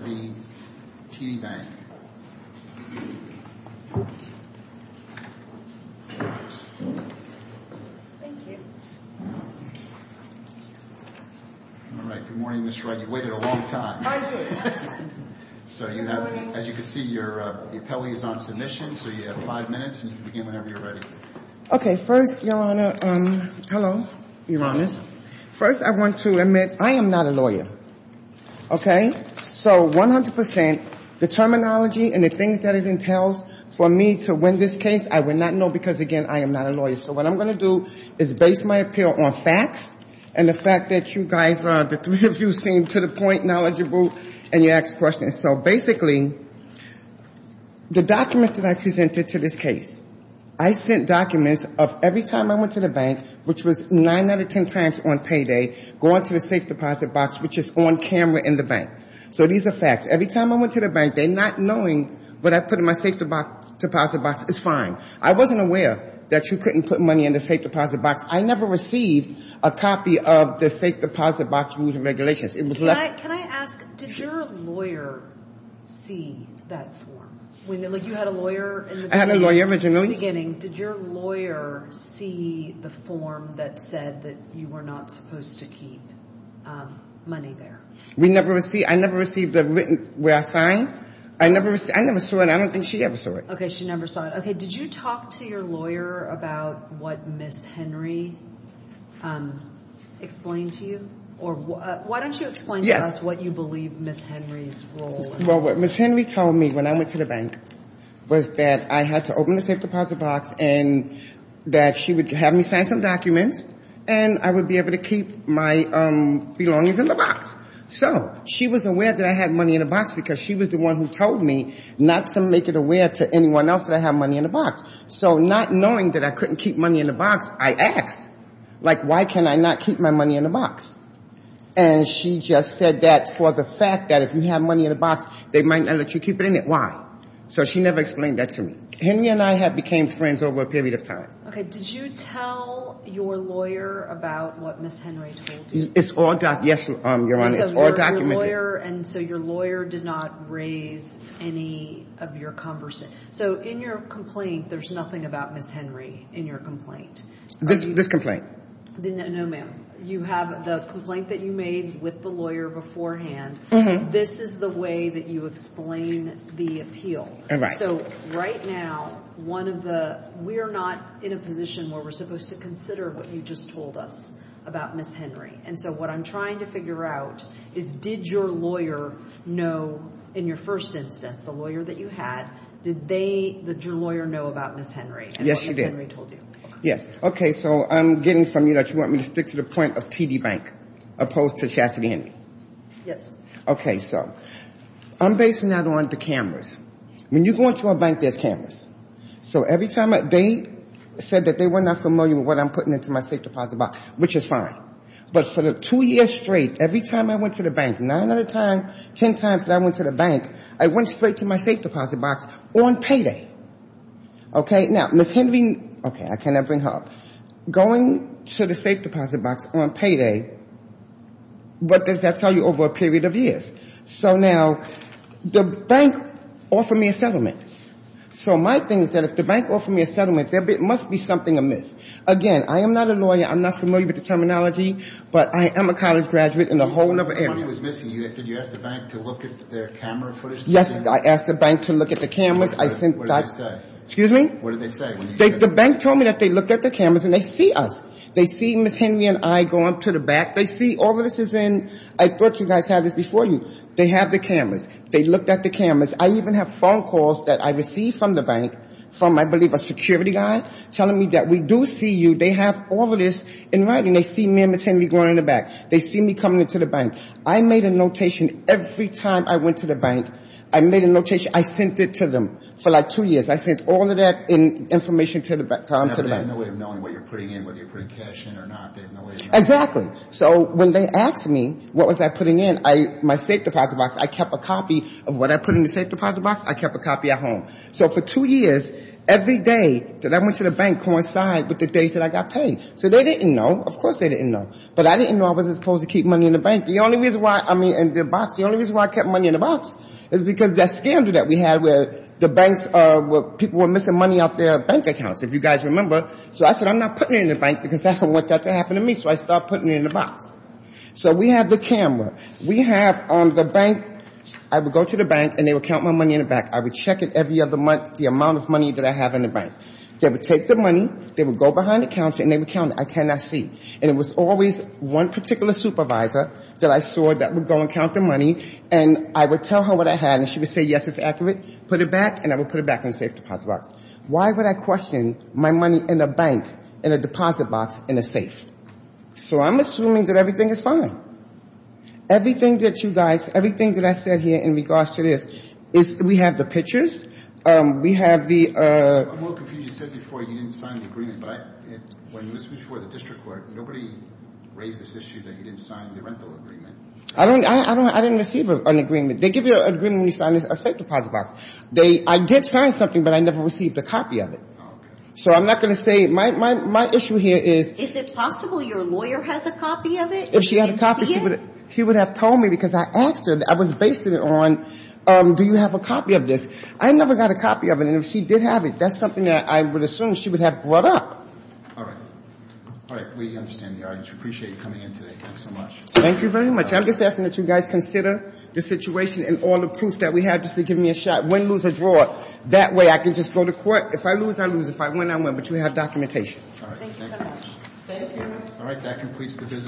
Thank you. All right. Good morning, Ms. Wright. You waited a long time. I did. So as you can see, your appellee is on submission, so you have five minutes, and you can begin whenever you're ready. Okay. First, Your Honor, hello, Your Honor. First, I want to admit I am not a lawyer. Okay? So 100 percent, the terminology and the things that it entails for me to win this case, I would not know because, again, I am not a lawyer. So what I'm going to do is base my appeal on facts and the fact that you guys are, the three of you, seem to the point knowledgeable and you ask questions. So basically, the documents that I presented to this case, I sent documents of every time I went to the bank, which was 9 out of 10 times on payday, going to the safe deposit box, which is on camera in the bank. So these are facts. Every time I went to the bank, they're not knowing what I put in my safe deposit box is fine. I wasn't aware that you couldn't put money in the safe deposit box. I never received a copy of the safe deposit box rules and regulations. Can I ask, did your lawyer see that form? You had a lawyer in the beginning. I had a lawyer in the beginning. In the beginning, did your lawyer see the form that said that you were not supposed to keep money there? We never received, I never received the written, where I signed. I never received, I never saw it. I don't think she ever saw it. Okay, she never saw it. Okay, did you talk to your lawyer about what Ms. Henry explained to you? Or why don't you explain to us what you believe Ms. Henry's role in this? Well, what Ms. Henry told me when I went to the bank was that I had to open the safe deposit box and that she would have me sign some documents and I would be able to keep my belongings in the box. So she was aware that I had money in the box because she was the one who told me not to make it aware to anyone else that I have money in the box. So not knowing that I couldn't keep money in the box, I asked, like, why can I not keep my money in the box? And she just said that for the fact that if you have money in the box, they might not let you keep it in it. Why? So she never explained that to me. Henry and I have became friends over a period of time. Okay, did you tell your lawyer about what Ms. Henry told you? It's all, yes, Your Honor, it's all documented. And so your lawyer did not raise any of your conversation. So in your complaint, there's nothing about Ms. Henry in your complaint? This complaint. No, ma'am. You have the complaint that you made with the lawyer beforehand. This is the way that you explain the appeal. So right now, one of the, we are not in a position where we're supposed to consider what you just told us about Ms. Henry. And so what I'm trying to figure out is, did your lawyer know in your first instance, the lawyer that you had, did they, did your lawyer know about Ms. Henry and what Ms. Henry told you? Yes. Okay. So I'm getting from you that you want me to stick to the point of TD Bank opposed to Chastity Henry. Yes. Okay. So I'm basing that on the cameras. When you go into a bank, there's cameras. So every time they said that they were not familiar with what I'm putting into my safe deposit box, which is fine. But for the two years straight, every time I went to the bank, nine out of ten times that I went to the bank, I went straight to my safe deposit box on payday. Okay? Now, Ms. Henry, okay, I cannot bring her up. Going to the safe deposit box on payday, what does that tell you over a period of years? So now the bank offered me a settlement. So my thing is that if the bank offered me a settlement, there must be something amiss. Again, I am not a lawyer. I'm not familiar with the terminology. But I am a college graduate in a whole other area. The money was missing. Did you ask the bank to look at their camera footage? Yes. I asked the bank to look at the cameras. I sent that. What did they say? Excuse me? What did they say? The bank told me that they looked at the cameras and they see us. They see Ms. Henry and I going to the back. They see all of this is in. I thought you guys had this before you. They have the cameras. They looked at the cameras. I even have phone calls that I receive from the bank from, I believe, a security guy telling me that we do see you. They have all of this in writing. They see me and Ms. Henry going in the back. They see me coming into the bank. I made a notation every time I went to the bank. I made a notation. I sent it to them for like two years. I sent all of that information to them. They have no way of knowing what you're putting in, whether you're putting cash in or not. Exactly. So when they asked me what was I putting in, my safe deposit box, I kept a copy of what I put in the safe deposit box. I kept a copy at home. So for two years, every day that I went to the bank coincided with the days that I got paid. So they didn't know. Of course they didn't know. But I didn't know I was supposed to keep money in the bank. The only reason why, I mean, in the box, the only reason why I kept money in the box is because that scandal that we had where the banks, people were missing money out their bank accounts, if you guys remember. So I said I'm not putting it in the bank because I don't want that to happen to me. So I stopped putting it in the box. So we have the camera. We have on the bank, I would go to the bank and they would count my money in the bank. I would check it every other month, the amount of money that I have in the bank. They would take the money, they would go behind the counter and they would count it. I cannot see. And it was always one particular supervisor that I saw that would go and count the money and I would tell her what I had and she would say, yes, it's accurate. Put it back and I would put it back in the safe deposit box. Why would I question my money in a bank, in a deposit box, in a safe? So I'm assuming that everything is fine. Everything that you guys, everything that I said here in regards to this, we have the pictures. We have the ‑‑ I'm a little confused. You said before you didn't sign the agreement, but when you were speaking to the district court, nobody raised this issue that you didn't sign the rental agreement. I didn't receive an agreement. They give you an agreement when you sign a safe deposit box. I did sign something, but I never received a copy of it. So I'm not going to say, my issue here is Is it possible your lawyer has a copy of it? If she had a copy, she would have told me because I asked her, I was basing it on, do you have a copy of this? I never got a copy of it. And if she did have it, that's something that I would assume she would have brought up. All right. All right. We understand the argument. We appreciate you coming in today. Thanks so much. Thank you very much. I'm just asking that you guys consider the situation and all the proof that we have just to give me a shot. Win, lose, or draw. That way I can just go to court. If I lose, I lose. If I win, I win. But you have documentation. All right. Thank you. Thank you so much. All right. That completes the business.